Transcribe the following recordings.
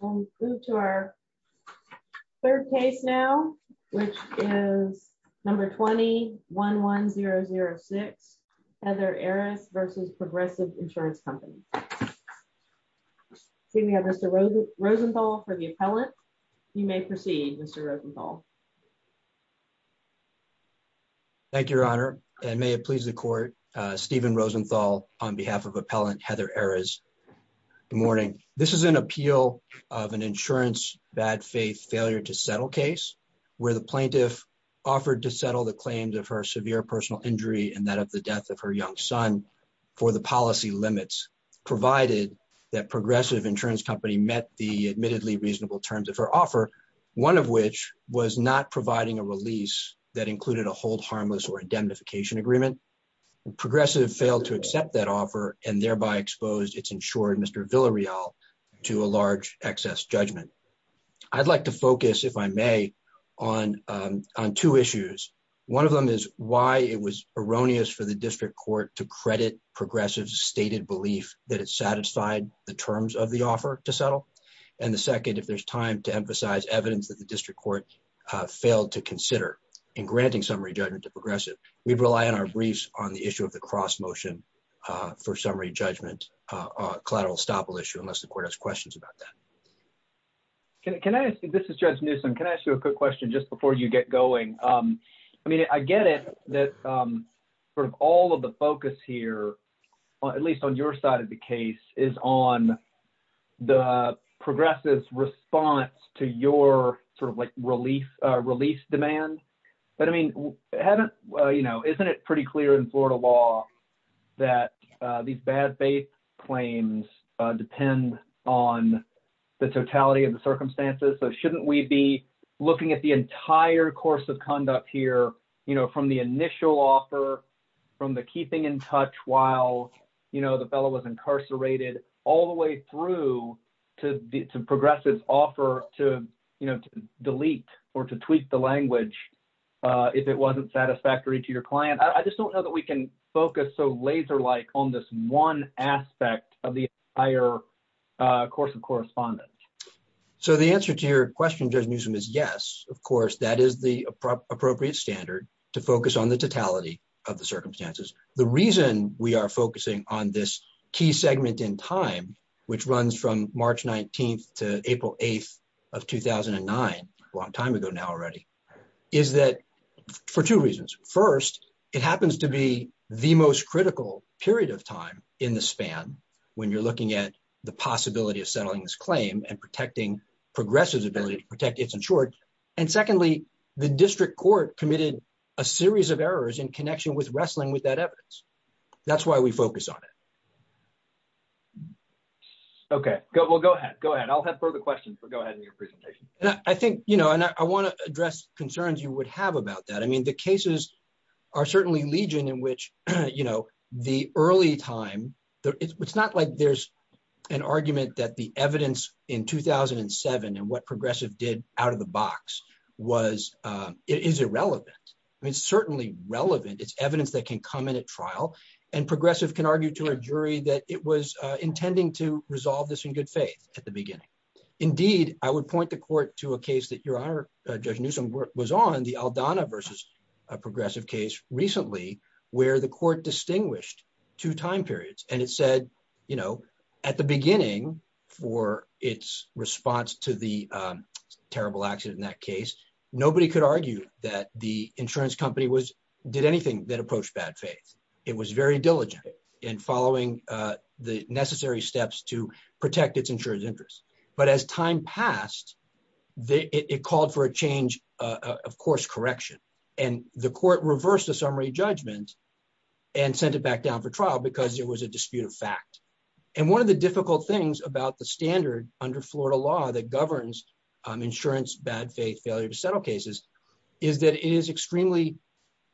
We'll move to our third case now, which is number 21-1006, Heather Eres v. Progressive Insurance Company. Seeing we have Mr. Rosenthal for the appellant, you may proceed, Mr. Rosenthal. Thank you, Your Honor, and may it please the court, Stephen Rosenthal on behalf of appellant Heather Eres. Good morning. This is an appeal of an insurance bad faith failure to settle case where the plaintiff offered to settle the claims of her severe personal injury and that of the death of her young son for the policy limits, provided that Progressive Insurance Company met the admittedly reasonable terms of her offer, one of which was not providing a release that included a hold harmless or indemnification agreement. Progressive failed to accept that offer and thereby exposed its insured Mr. Villarreal to a large excess judgment. I'd like to focus, if I may, on two issues. One of them is why it was erroneous for the district court to credit Progressive's stated belief that it satisfied the terms of the offer to settle. And the second, if there's time, to emphasize evidence that the district court failed to consider in granting summary judgment to Progressive. We rely on our briefs on the issue of the cross motion for summary judgment collateral estoppel issue, unless the court has questions about that. This is Judge Newsom. Can I ask you a quick question just before you get going? I mean, I get it that sort of all of the focus here, at least on your side of the case, is on the Progressive's response to your sort of like relief, release demand. But I mean, haven't you know, isn't it pretty clear in Florida law that these bad faith claims depend on the totality of the circumstances? So shouldn't we be looking at the entire course of conduct here, you know, from the initial offer, from the keeping in touch while, you know, the fellow was incarcerated, all the way through to Progressive's offer to, you know, delete or to tweak the language if it wasn't satisfactory to your client? I just don't know that we can focus so laser like on this one aspect of the entire course of correspondence. So the answer to your question, Judge Newsom, is yes, of course, that is the appropriate standard to focus on the totality of the circumstances. The reason we are focusing on this key segment in time, which runs from March 19th to April 8th of 2009, a long time ago now already, is that for two reasons. First, it happens to be the most critical period of time in the span when you're looking at the possibility of settling this claim and protecting Progressive's ability to protect its insured. And secondly, the district court committed a series of errors in connection with wrestling with that evidence. That's why we focus on it. Okay, go ahead. I'll have further questions, but go ahead in your presentation. I think, you know, and I want to address concerns you would have about that. I mean, the cases are certainly legion in which, you know, the early time. It's not like there's an argument that the evidence in 2007 and what Progressive did out of the box was is irrelevant. It's certainly relevant it's evidence that can come in at trial and Progressive can argue to a jury that it was intending to resolve this in good faith at the beginning. Indeed, I would point the court to a case that Your Honor, Judge Newsom was on the Aldana versus a Progressive case recently, where the court distinguished two time periods and it said, you know, at the beginning for its response to the terrible accident in that case, nobody could argue that the insurance company was did anything that approached bad faith. It was very diligent in following the necessary steps to protect its insurance interest. But as time passed, it called for a change, of course, correction, and the court reversed the summary judgment and sent it back down for trial because there was a dispute of fact. And one of the difficult things about the standard under Florida law that governs insurance bad faith failure to settle cases is that it is extremely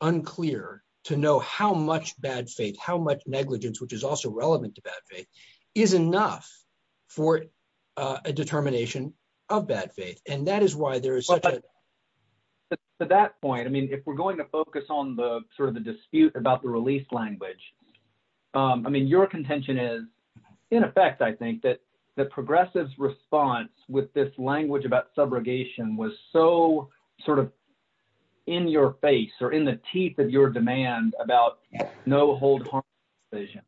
unclear to know how much bad faith how much negligence which is also relevant to bad faith is enough for a determination of bad faith, and that is why there is. To that point, I mean, if we're going to focus on the sort of the dispute about the release language. I mean your contention is, in effect, I think that the progressives response with this language about subrogation was so sort of in your face or in the teeth of your demand about no hold on vision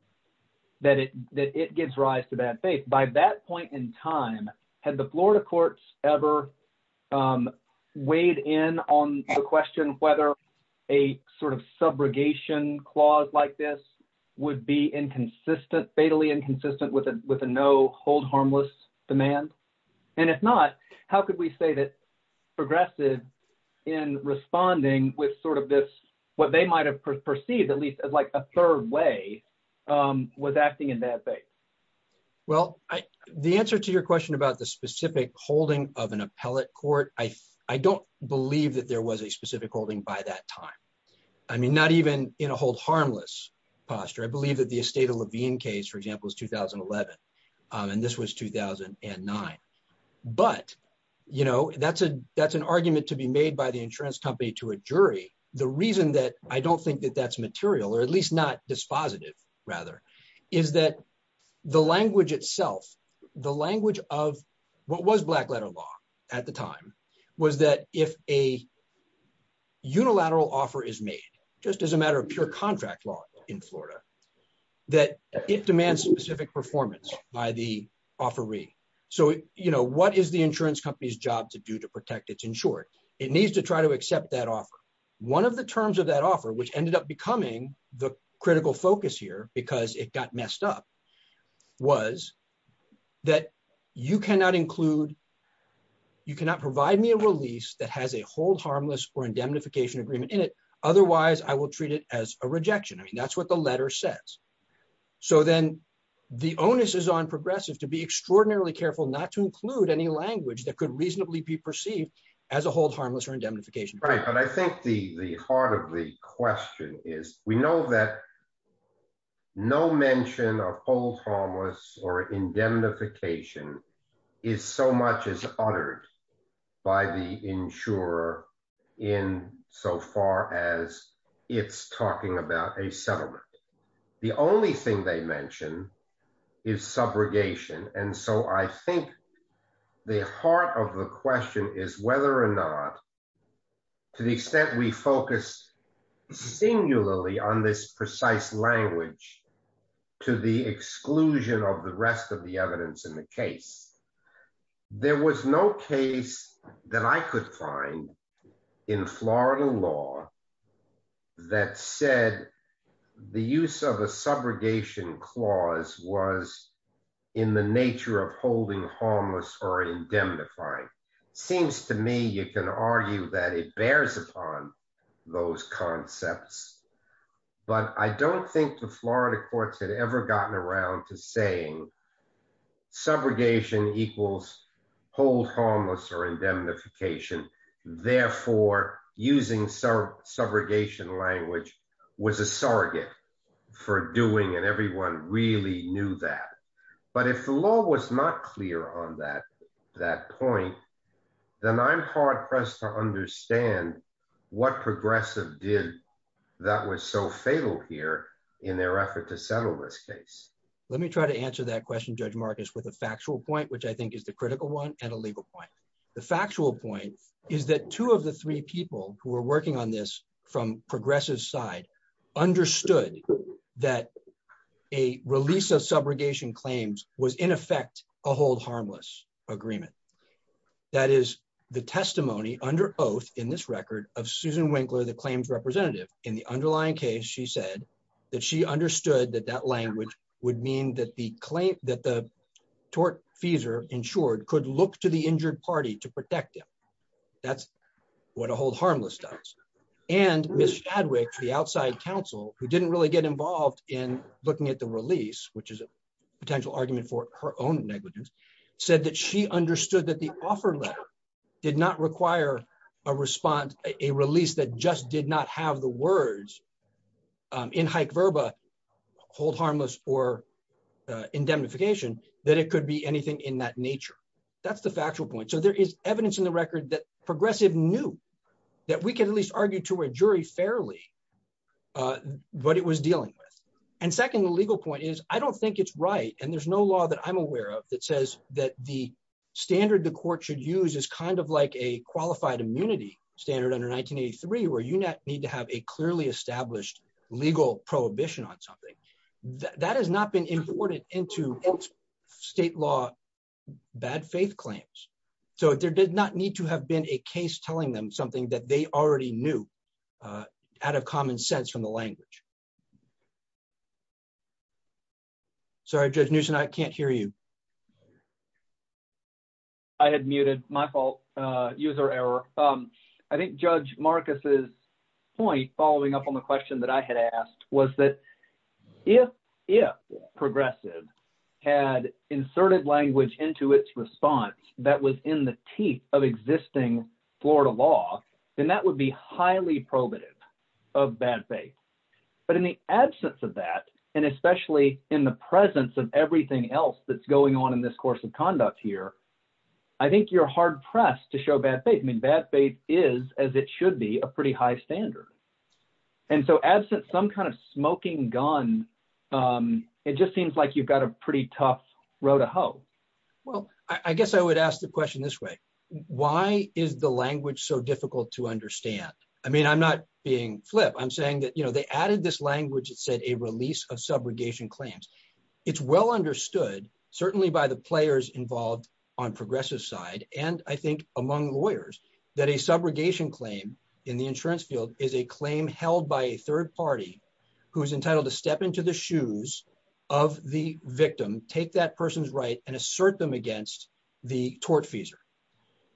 that it that it gives rise to bad faith by that point in time, had the Florida courts ever weighed in on the question whether a sort of subrogation clause like this would be inconsistent fatally inconsistent with a with a no hold harmless demand. And if not, how could we say that progressive in responding with sort of this, what they might have perceived at least as like a third way was acting in that way. Well, I, the answer to your question about the specific holding of an appellate court, I, I don't believe that there was a specific holding by that time. I mean, not even in a hold harmless posture I believe that the state of Levine case for example is 2011. And this was 2009. But, you know, that's a, that's an argument to be made by the insurance company to a jury. The reason that I don't think that that's material or at least not dispositive, rather, is that the language itself. The language of what was black letter law at the time was that if a unilateral offer is made, just as a matter of pure contract law in Florida, that it demands specific performance by the offeree. So, you know, what is the insurance company's job to do to protect its insured, it needs to try to accept that offer. One of the terms of that offer which ended up becoming the critical focus here because it got messed up was that you cannot include. You cannot provide me a release that has a hold harmless or indemnification agreement in it. Otherwise, I will treat it as a rejection I mean that's what the letter says. So then the onus is on progressive to be extraordinarily careful not to include any language that could reasonably be perceived as a hold harmless or indemnification right but I think the the heart of the question is, we know that no mention of a hold harmless or indemnification is so much as uttered by the insurer in so far as it's talking about a settlement. The only thing they mentioned is subrogation and so I think the heart of the question is whether or not, to the extent we focus singularly on this precise language to the exclusion of the rest of the evidence in the case. There was no case that I could find in Florida law that said the use of a subrogation clause was in the nature of holding harmless or indemnify seems to me you can argue that it bears upon those concepts. But I don't think the Florida courts had ever gotten around to saying subrogation equals hold harmless or indemnification. Therefore, using some subrogation language was a surrogate for doing and everyone really knew that. But if the law was not clear on that, that point, then I'm hard pressed to understand what progressive did that was so fatal here in their effort to settle this case. Let me try to answer that question Judge Marcus with a factual point which I think is the critical one, and a legal point. The factual point is that two of the three people who are working on this from progressive side understood that a release of subrogation claims was in effect, a hold harmless agreement. That is the testimony under oath in this record of Susan Winkler the claims representative in the underlying case she said that she understood that that language would mean that the claim that the tort fees are insured could look to the injured party to protect them. That's what a hold harmless does. And Miss Chadwick the outside counsel, who didn't really get involved in looking at the release, which is a potential argument for her own negligence, said that she understood that the offer letter did not require a response, a release that just did not have the words. In hike Verba hold harmless or indemnification, that it could be anything in that nature. That's the factual point so there is evidence in the record that progressive knew that we can at least argue to a jury fairly. But it was dealing with. And second legal point is, I don't think it's right and there's no law that I'm aware of that says that the standard the court should use is kind of like a qualified immunity standard under 1983 where you need to have a clearly kind of common sense from the language. Sorry, just news and I can't hear you. I had muted my fault user error. I think Judge Marcus's point following up on the question that I had asked was that if, if progressive had inserted language into its response that was in the teeth of existing Florida law, then that would be highly probative of bad faith. But in the absence of that, and especially in the presence of everything else that's going on in this course of conduct here. I think you're hard pressed to show bad faith mean bad faith is as it should be a pretty high standard. And so absent some kind of smoking gun. It just seems like you've got a pretty tough road to hoe. Well, I guess I would ask the question this way. Why is the language so difficult to understand. I mean I'm not being flip I'm saying that you know they added this language it said a release of subrogation claims. It's well understood, certainly by the players involved on progressive side, and I think among lawyers that a subrogation claim in the insurance field is a claim held by a third party, who's entitled to step into the shoes of the victim, take that person's right and assert them against the tort fees.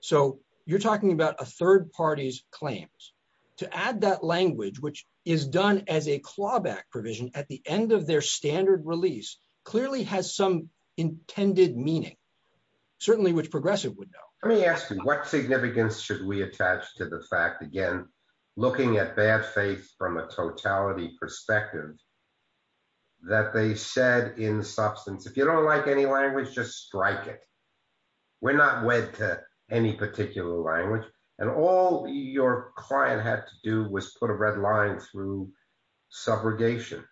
So, you're talking about a third parties claims to add that language which is done as a clawback provision at the end of their standard release clearly has some intended meaning, certainly which progressive window, let me ask you what significance should we attach to the fact again, looking at bad faith from a totality perspective that they said in substance if you don't like any language just strike it. We're not wed to any particular language, and all your client had to do was put a red line through subrogation.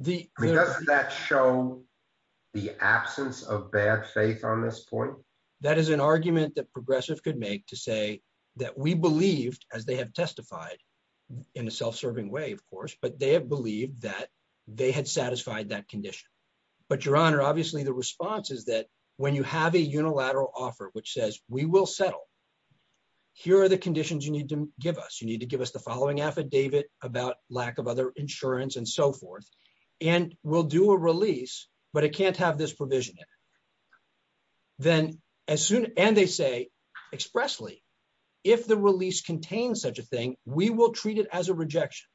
The that show the absence of bad faith on this point. That is an argument that progressive could make to say that we believed as they have testified in a self serving way of course but they have believed that they had satisfied that condition. But your honor obviously the response is that when you have a unilateral offer which says, we will settle. Here are the conditions you need to give us you need to give us the following affidavit about lack of other insurance and so forth. And we'll do a release, but it can't have this provision. Then, as soon as they say, expressly. If the release contains such a thing, we will treat it as a rejection,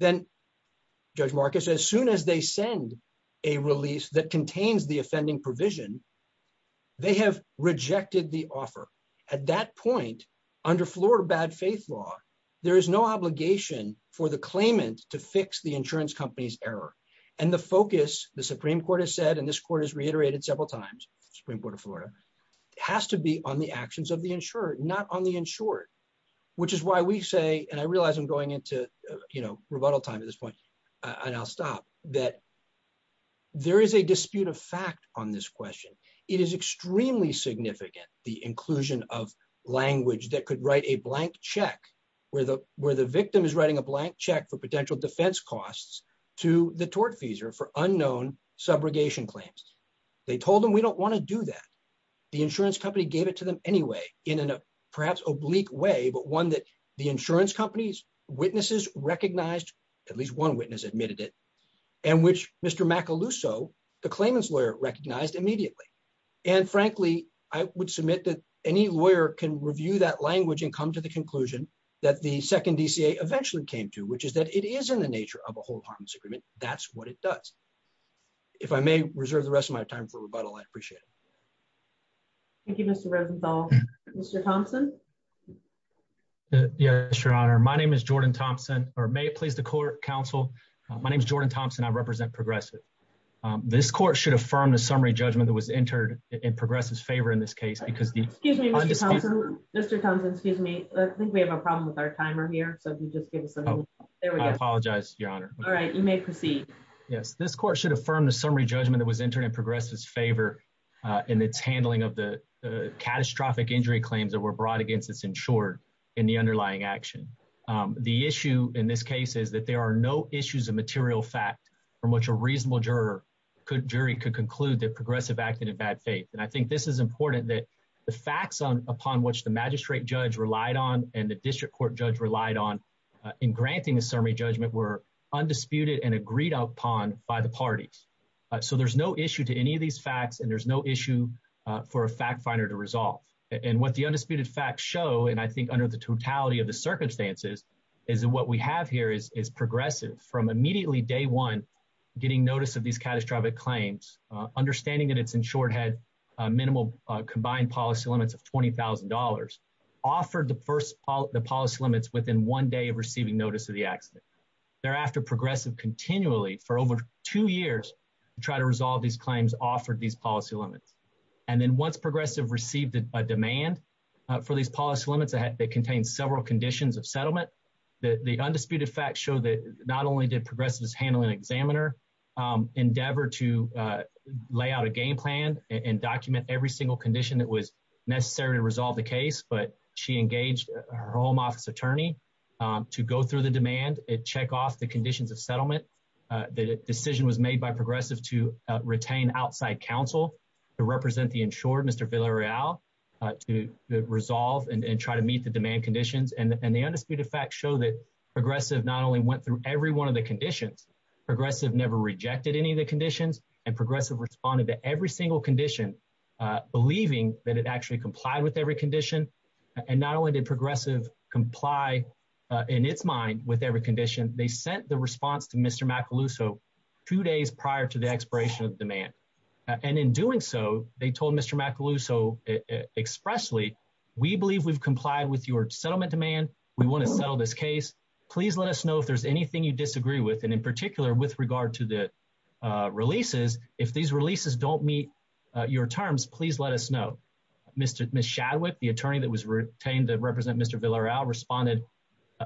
then Judge Marcus as soon as they send a release that contains the offending provision. They have rejected the offer. At that point, under Florida bad faith law, there is no obligation for the claimant to fix the insurance company's error, and the focus, the Supreme Court has said and this court has reiterated several times, Supreme Court of Florida has to be on the actions of the insured not on the insured, which is why we say, and I realize I'm going into, you know, rebuttal time at this point, and I'll stop that. There is a dispute of fact on this question. It is extremely significant, the inclusion of language that could write a blank check, where the, where the victim is writing a blank check for potential defense costs to the tort fees are for unknown subrogation claims. They told them we don't want to do that. The insurance company gave it to them anyway, in a perhaps oblique way but one that the insurance companies witnesses recognized at least one witness admitted it, and which Mr. Macaluso, the claimants lawyer recognized immediately. And frankly, I would submit that any lawyer can review that language and come to the conclusion that the second DCA eventually came to which is that it is in the nature of a whole harm's agreement. That's what it does. If I may reserve the rest of my time for rebuttal I'd appreciate it. Thank you, Mr. Mr Thompson. Yeah, sure. My name is Jordan Thompson, or may it please the court counsel. My name is Jordan Thompson I represent progressive. This court should affirm the summary judgment that was entered in progress is favor in this case because the. Mr Thompson, excuse me, I think we have a problem with our timer here so if you just give us. There we go. Apologize, Your Honor. All right, you may proceed. Yes, this court should affirm the summary judgment that was entered in progress is favor. In its handling of the catastrophic injury claims that were brought against us in short in the underlying action. The issue in this case is that there are no issues of material fact from which a reasonable juror could jury could conclude that progressive acted in bad faith and I think this is important that the facts on upon which the magistrate judge relied on, and the district court judge relied on in granting a summary judgment were undisputed and agreed upon by the parties. So there's no issue to any of these facts and there's no issue for a fact finder to resolve, and what the undisputed facts show and I think under the totality of the circumstances is what we have here is is progressive from immediately day one, getting notice of these catastrophic claims, understanding that it's in shorthand, minimal combined policy limits of $20,000 offered the first part of the policy limits within one day of receiving notice of the accident. Thereafter progressive continually for over two years to try to resolve these claims offered these policy limits, and then once progressive received a demand for these policy limits ahead that contains several conditions of settlement that the undisputed facts show that not only did progressive is handling examiner endeavor to lay out a game plan and document every single condition that was necessary to resolve the case but she engaged her home office attorney to go through the demand. It check off the conditions of settlement. The decision was made by progressive to retain outside counsel to represent the insured Mr Villarreal to resolve and try to meet the demand conditions and the undisputed facts show that progressive not only went through every one of the conditions progressive never rejected any of the conditions and progressive responded to every single condition, believing that it actually complied with every condition. And not only did progressive comply in its mind with every condition they sent the response to Mr Macaluso two days prior to the expiration of demand. And in doing so, they told Mr Macaluso expressly. We believe we've complied with your settlement demand. We want to sell this case, please let us know if there's anything you disagree with and in particular with regard to the releases. If these releases don't meet your terms, please let us know. Mr Chadwick, the attorney that was retained to represent Mr Villarreal responded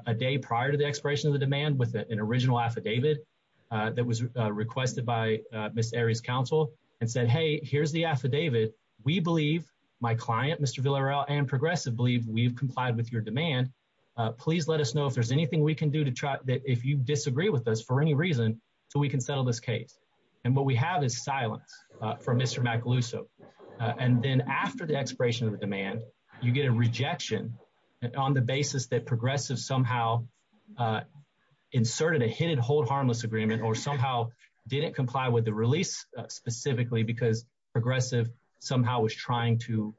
a day prior to the expiration of the demand with an original affidavit that was requested by Miss areas council and said, hey, here's the affidavit. We believe my client, Mr Villarreal and progressive believe we've complied with your demand. Please let us know if there's anything we can do to try that if you disagree with us for any reason, so we can settle this case. And what we have is silence from Mr Macaluso. And then after the expiration of the demand, you get a rejection on the basis that progressive somehow inserted a hidden hold harmless agreement or somehow didn't comply with the release specifically because progressive somehow was trying to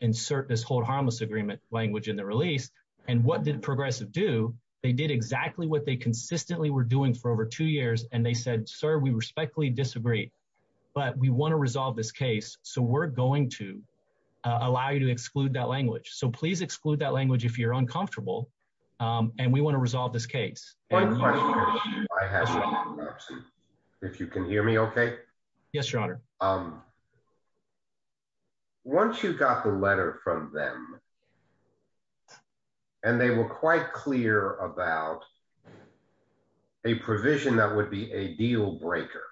insert this hold harmless agreement language in the release. And what did progressive do, they did exactly what they consistently were doing for over two years and they said, sir, we respectfully disagree. But we want to resolve this case, so we're going to allow you to exclude that language so please exclude that language if you're uncomfortable. And we want to resolve this case. If you can hear me okay. Yes, your honor. Um, once you got the letter from them. And they were quite clear about a provision that would be a deal breaker.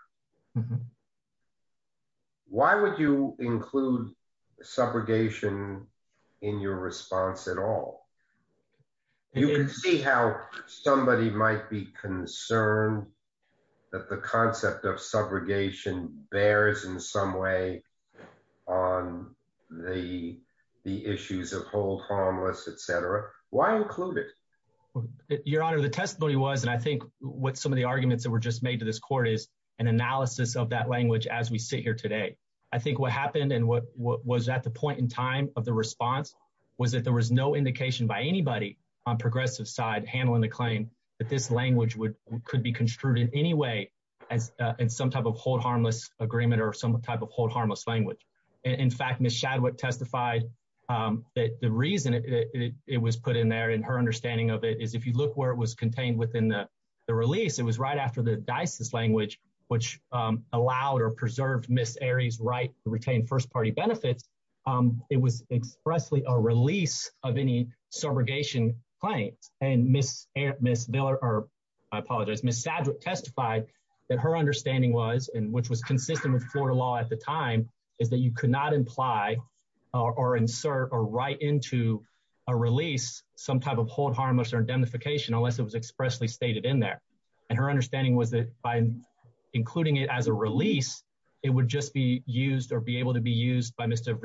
Why would you include subrogation in your response at all. You can see how somebody might be concerned that the concept of subrogation bears in some way on the, the issues of hold harmless etc. Why include it. Your Honor, the testimony was and I think what some of the arguments that were just made to this court is an analysis of that language as we sit here today. I think what happened and what was at the point in time of the response was that there was no indication by anybody on progressive side handling the claim that this language would could be construed in any way, as in some type of hold harmless agreement or some type of hold And what we found was if you look where it was contained within the release it was right after the Dyson's language, which allowed or preserved Miss areas right to retain first party benefits. It was expressly a release of any subrogation claims and Miss Miss Miller, or I apologize Miss Saddler testified that her understanding was and which was consistent with Florida law at the time is that you could not imply or insert or right into a release, some type of hold harmless or identification unless it was expressly stated in there. And her understanding was that by including it as a release, it would just be used or be able to be used by Mr.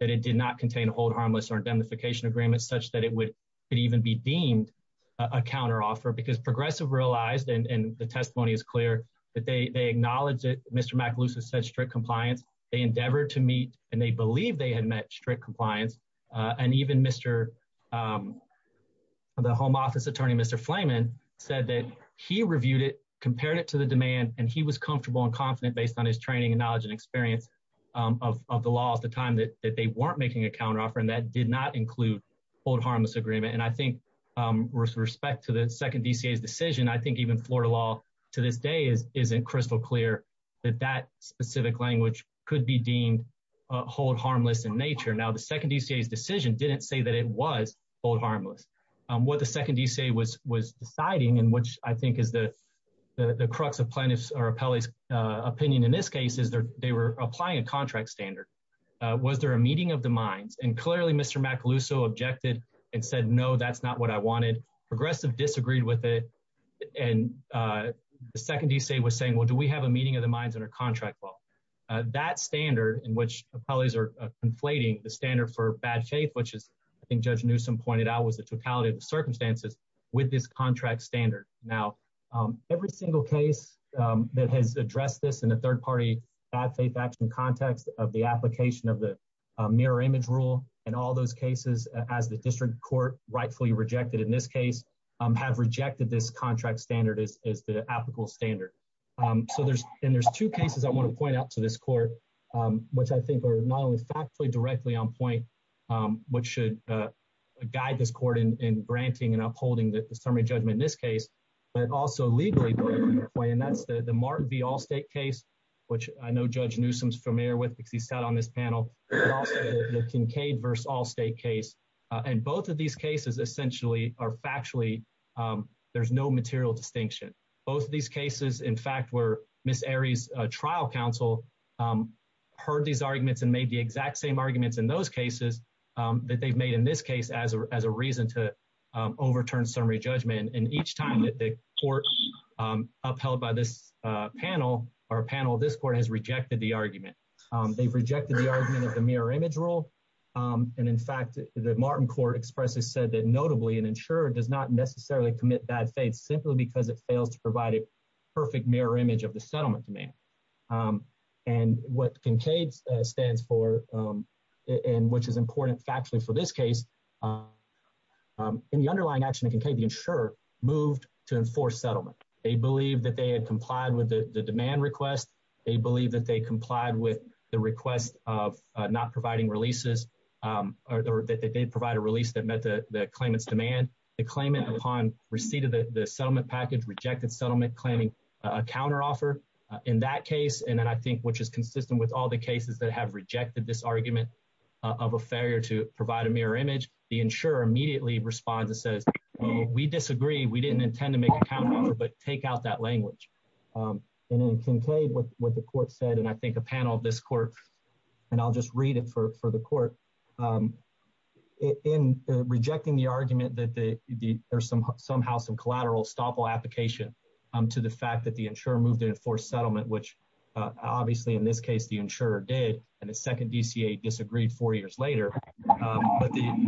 That it did not contain hold harmless or identification agreements such that it would even be deemed a counter offer because progressive realized and the testimony is clear that they acknowledge that Mr. Compliance, they endeavor to meet and they believe they had met strict compliance and even Mr. The home office attorney, Mr. Flamin said that he reviewed it compared it to the demand and he was comfortable and confident based on his training and knowledge and experience. Of the law at the time that they weren't making a counter offer and that did not include hold harmless agreement and I think. With respect to the second DCS decision I think even Florida law to this day is isn't crystal clear that that specific language could be deemed. Hold harmless in nature now the second DCS decision didn't say that it was old harmless what the second DCA was was deciding and which I think is the. The crux of plaintiffs or appellees opinion in this case is there, they were applying a contract standard. Was there a meeting of the minds and clearly Mr Macaluso objected and said no that's not what I wanted progressive disagreed with it and. The second DCA was saying, well, do we have a meeting of the minds and our contract well that standard in which appellees are inflating the standard for bad faith, which is. I think judge newsome pointed out, was the totality of the circumstances with this contract standard now every single case. That has addressed this in a third party bad faith action context of the application of the mirror image rule and all those cases as the district court rightfully rejected in this case. Have rejected this contract standard is the applicable standard so there's in there's two cases, I want to point out to this court, which I think are not only factually directly on point. Which should guide this court in granting and upholding the summary judgment in this case, but also legally. And that's the the Martin V Allstate case, which I know judge newsomes familiar with because he sat on this panel. Kincaid verse Allstate case and both of these cases, essentially, are factually there's no material distinction both of these cases, in fact, were Miss Aries trial counsel. Heard these arguments and made the exact same arguments in those cases that they've made in this case as a reason to overturn summary judgment and each time that the court. upheld by this panel or panel this court has rejected the argument they've rejected the argument of the mirror image rule. And in fact, the Martin court expresses said that, notably, and ensure does not necessarily commit bad faith simply because it fails to provide a perfect mirror image of the settlement demand. And what Kincaid stands for, and which is important factually for this case. In the underlying action of Kincaid the insurer moved to enforce settlement, they believe that they had complied with the demand request, they believe that they complied with the request of not providing releases. Or that they provide a release that met the claimants demand the claimant upon receipt of the settlement package rejected settlement claiming a counter offer. In that case, and then I think which is consistent with all the cases that have rejected this argument of a failure to provide a mirror image, the insurer immediately responds and says, we disagree we didn't intend to make account, but take out that language. And then Kincaid what the court said and I think a panel of this court, and I'll just read it for the court. In rejecting the argument that the, there's some somehow some collateral stop all application to the fact that the insurer moved in for settlement which obviously in this case the insurer did, and the second DCA disagreed four years later.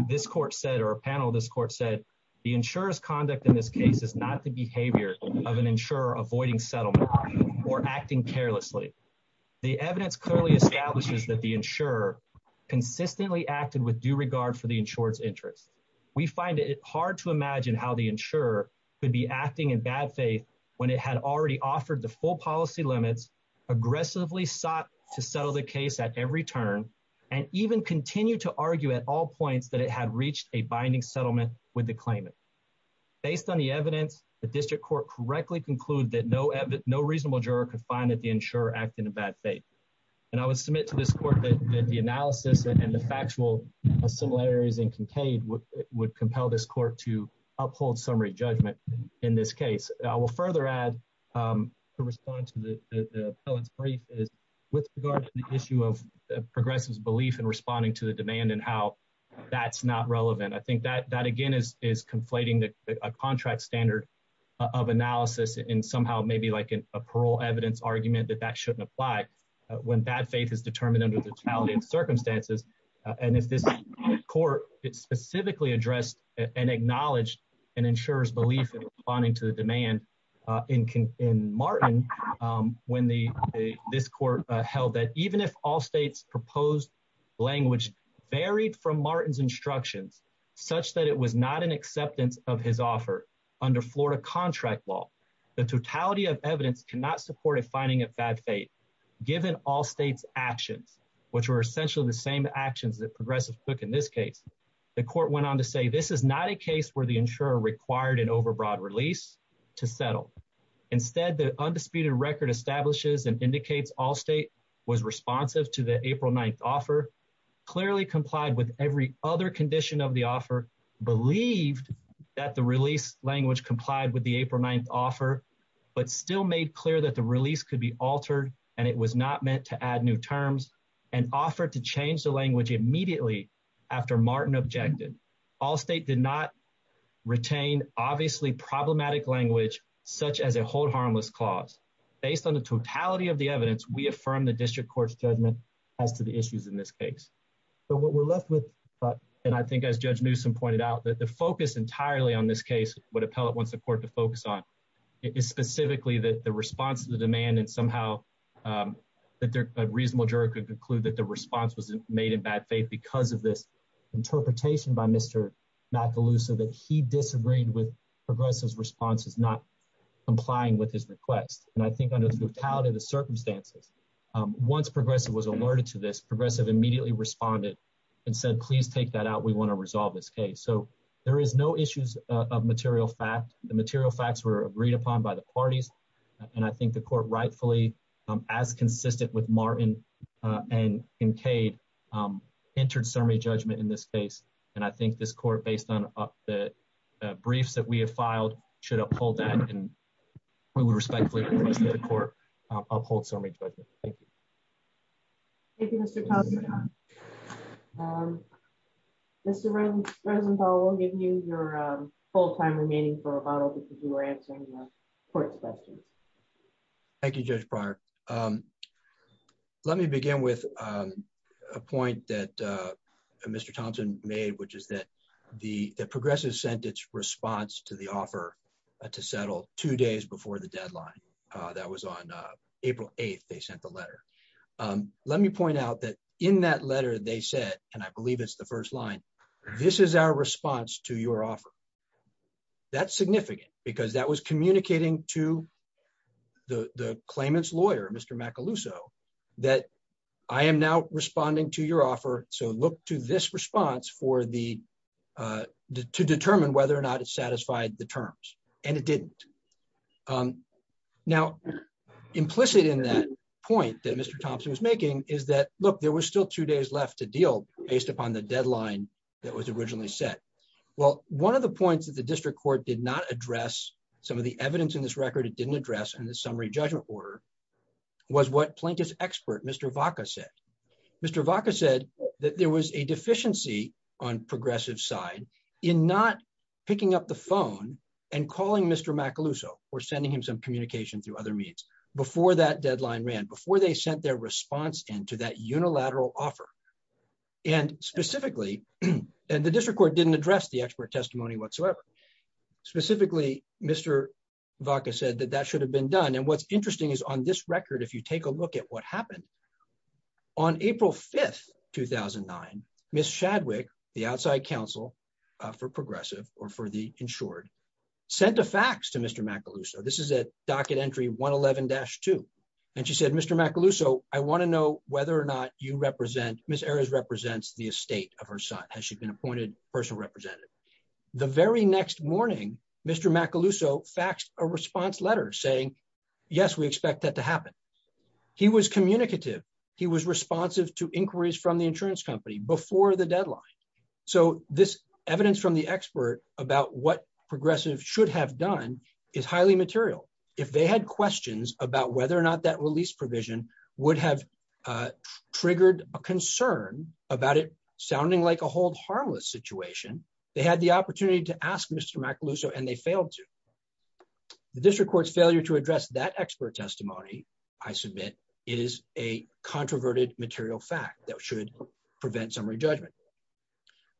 This court said or a panel this court said the insurance conduct in this case is not the behavior of an insurer avoiding settlement or acting carelessly. The evidence clearly establishes that the insurer consistently acted with due regard for the insurance interest. We find it hard to imagine how the insurer could be acting in bad faith, when it had already offered the full policy limits aggressively sought to settle the case at every turn, and even continue to argue at all points that it had reached a binding settlement with the claimant. Based on the evidence, the district court correctly conclude that no, no reasonable juror could find that the insurer act in a bad faith. And I would submit to this court that the analysis and the factual similarities and Kincaid would would compel this court to uphold summary judgment. In this case, I will further add to respond to the brief is with regard to the issue of progressives belief in responding to the demand and how that's not relevant. I think that that again is is conflating the contract standard of analysis and somehow maybe like a parole evidence argument that that shouldn't apply. When bad faith is determined under the totality of circumstances. And if this court, it specifically addressed and acknowledged and ensures belief in responding to the demand in can in Martin. When the this court held that even if all states proposed language varied from Martin's instructions, such that it was not an acceptance of his offer under Florida contract law. The totality of evidence cannot support a finding of bad faith, given all states actions, which were essentially the same actions that progressive took in this case. The court went on to say this is not a case where the insurer required an overbroad release to settle. Instead, the undisputed record establishes and indicates all state was responsive to the April 9 offer. Clearly complied with every other condition of the offer believed that the release language complied with the April 9 offer. But still made clear that the release could be altered and it was not meant to add new terms and offer to change the language immediately after Martin objected. All state did not retain obviously problematic language such as a hold harmless clause. Based on the totality of the evidence, we affirm the district court's judgment as to the issues in this case. But what we're left with, and I think as Judge Newsome pointed out that the focus entirely on this case would appellate once the court to focus on. Is specifically that the response to the demand and somehow that they're a reasonable juror could conclude that the response was made in bad faith because of this interpretation by Mr. Macaluso that he disagreed with progressives responses not complying with his request. And I think under the totality of the circumstances. Once progressive was alerted to this progressive immediately responded and said, please take that out. We want to resolve this case. So there is no issues of material fact the material facts were agreed upon by the parties. And I think the court rightfully as consistent with Martin and Kade entered summary judgment in this case. And I think this court based on the briefs that we have filed should uphold that and we would respectfully request that the court uphold summary judgment. Thank you. Thank you, Mr. Cosby. Thank you. Mr. Rosen, I'll give you your full time remaining for a bottle because you were answering the court's question. Thank you, Judge prior. Let me begin with a point that Mr Thompson made, which is that the progressive sentence response to the offer to settle two days before the deadline. That was on April 8 they sent the letter. Let me point out that in that letter they said, and I believe it's the first line. This is our response to your offer. That's significant, because that was communicating to the claimants lawyer Mr Macaluso that I am now responding to your offer. So look to this response for the to determine whether or not it satisfied the terms, and it didn't. Now, implicit in that point that Mr Thompson was making is that, look, there was still two days left to deal based upon the deadline that was originally set. Well, one of the points that the district court did not address some of the evidence in this record it didn't address and the summary judgment order was what plaintiff's expert Mr vodka said Mr vodka said that there was a deficiency on progressive side in not picking up the phone and calling Mr Macaluso, or sending him some communication through other means before that deadline ran before they sent their response into that unilateral offer. And specifically, and the district court didn't address the expert testimony whatsoever. Specifically, Mr vodka said that that should have been done and what's interesting is on this record if you take a look at what happened on April 5 2009 Miss Chadwick, the outside counsel for progressive, or for the insured sent a fax to Mr Macaluso this is a docket entry 111 dash two. And she said Mr Macaluso, I want to know whether or not you represent Miss areas represents the estate of her son has she been appointed personal representative. The very next morning, Mr Macaluso faxed a response letter saying, Yes, we expect that to happen. He was communicative. He was responsive to inquiries from the insurance company before the deadline. So, this evidence from the expert about what progressive should have done is highly material, if they had questions about whether or not that release provision would have triggered a concern about it, sounding like a hold harmless situation. They had the opportunity to ask Mr Macaluso and they failed to the district court's failure to address that expert testimony. I submit is a controverted material fact that should prevent summary judgment.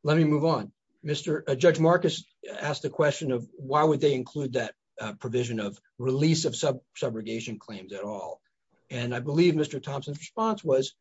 Let me move on, Mr. Judge Marcus asked the question of why would they include that provision of release of sub subrogation claims at all. And I believe Mr Thompson's response was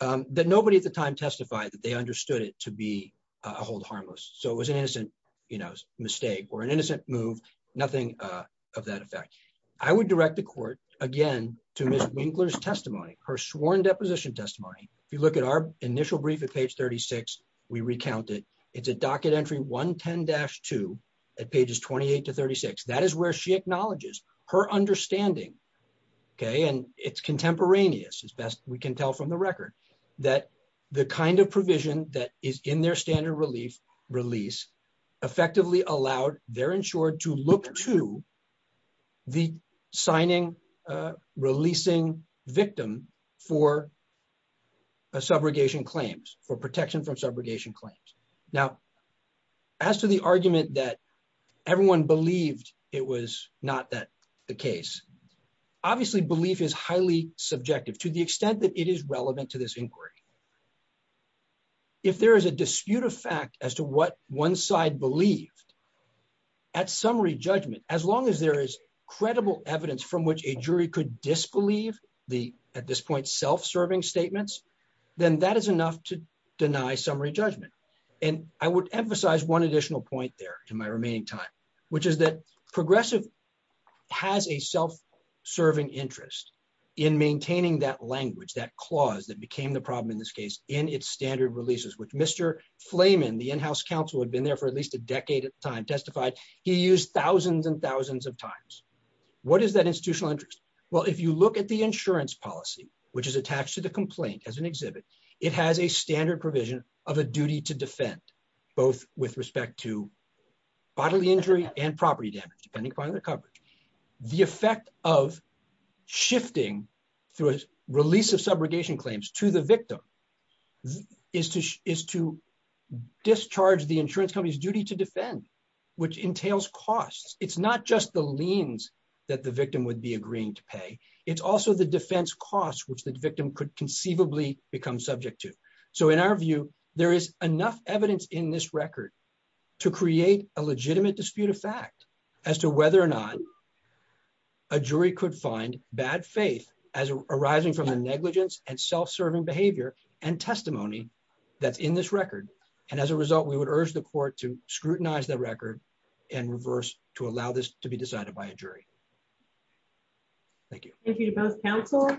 that nobody at the time testified that they understood it to be a hold harmless So it was an innocent, you know, mistake or an innocent move, nothing of that effect. I would direct the court, again, to Mr Winkler's testimony, her sworn deposition testimony. If you look at our initial brief at page 36, we recounted, it's a docket entry 110 dash two at pages 28 to 36 that is where she acknowledges her understanding. Okay, and it's contemporaneous as best we can tell from the record that the kind of provision that is in their standard relief release effectively allowed their insured to look to the signing releasing victim for a subrogation claims for protection from the case. Obviously belief is highly subjective to the extent that it is relevant to this inquiry. If there is a dispute of fact as to what one side believed at summary judgment, as long as there is credible evidence from which a jury could disbelieve the at this point self serving statements, then that is enough to deny summary judgment. And I would emphasize one additional point there in my remaining time, which is that progressive has a self serving interest in maintaining that language that clause that became the problem in this case in its standard releases which Mr. Flamin the in house counsel had been there for at least a decade at the time testified, he used thousands and thousands of times. What is that institutional interest. Well, if you look at the insurance policy, which is attached to the complaint as an exhibit. It has a standard provision of a duty to defend, both with respect to bodily injury and property damage depending upon the coverage, the effect of shifting through a release of subrogation claims to the victim is to is to discharge the insurance company's duty to defend, which entails costs, it's not just the liens that the victim would be agreeing to pay. It's also the defense costs which the victim could conceivably become subject to. So in our view, there is enough evidence in this record to create a legitimate dispute of fact, as to whether or not a jury could find bad faith as arising from the negligence and self serving behavior and testimony that's in this record. And as a result, we would urge the court to scrutinize the record and reverse to allow this to be decided by a jury. Thank you. Thank you to both counsel.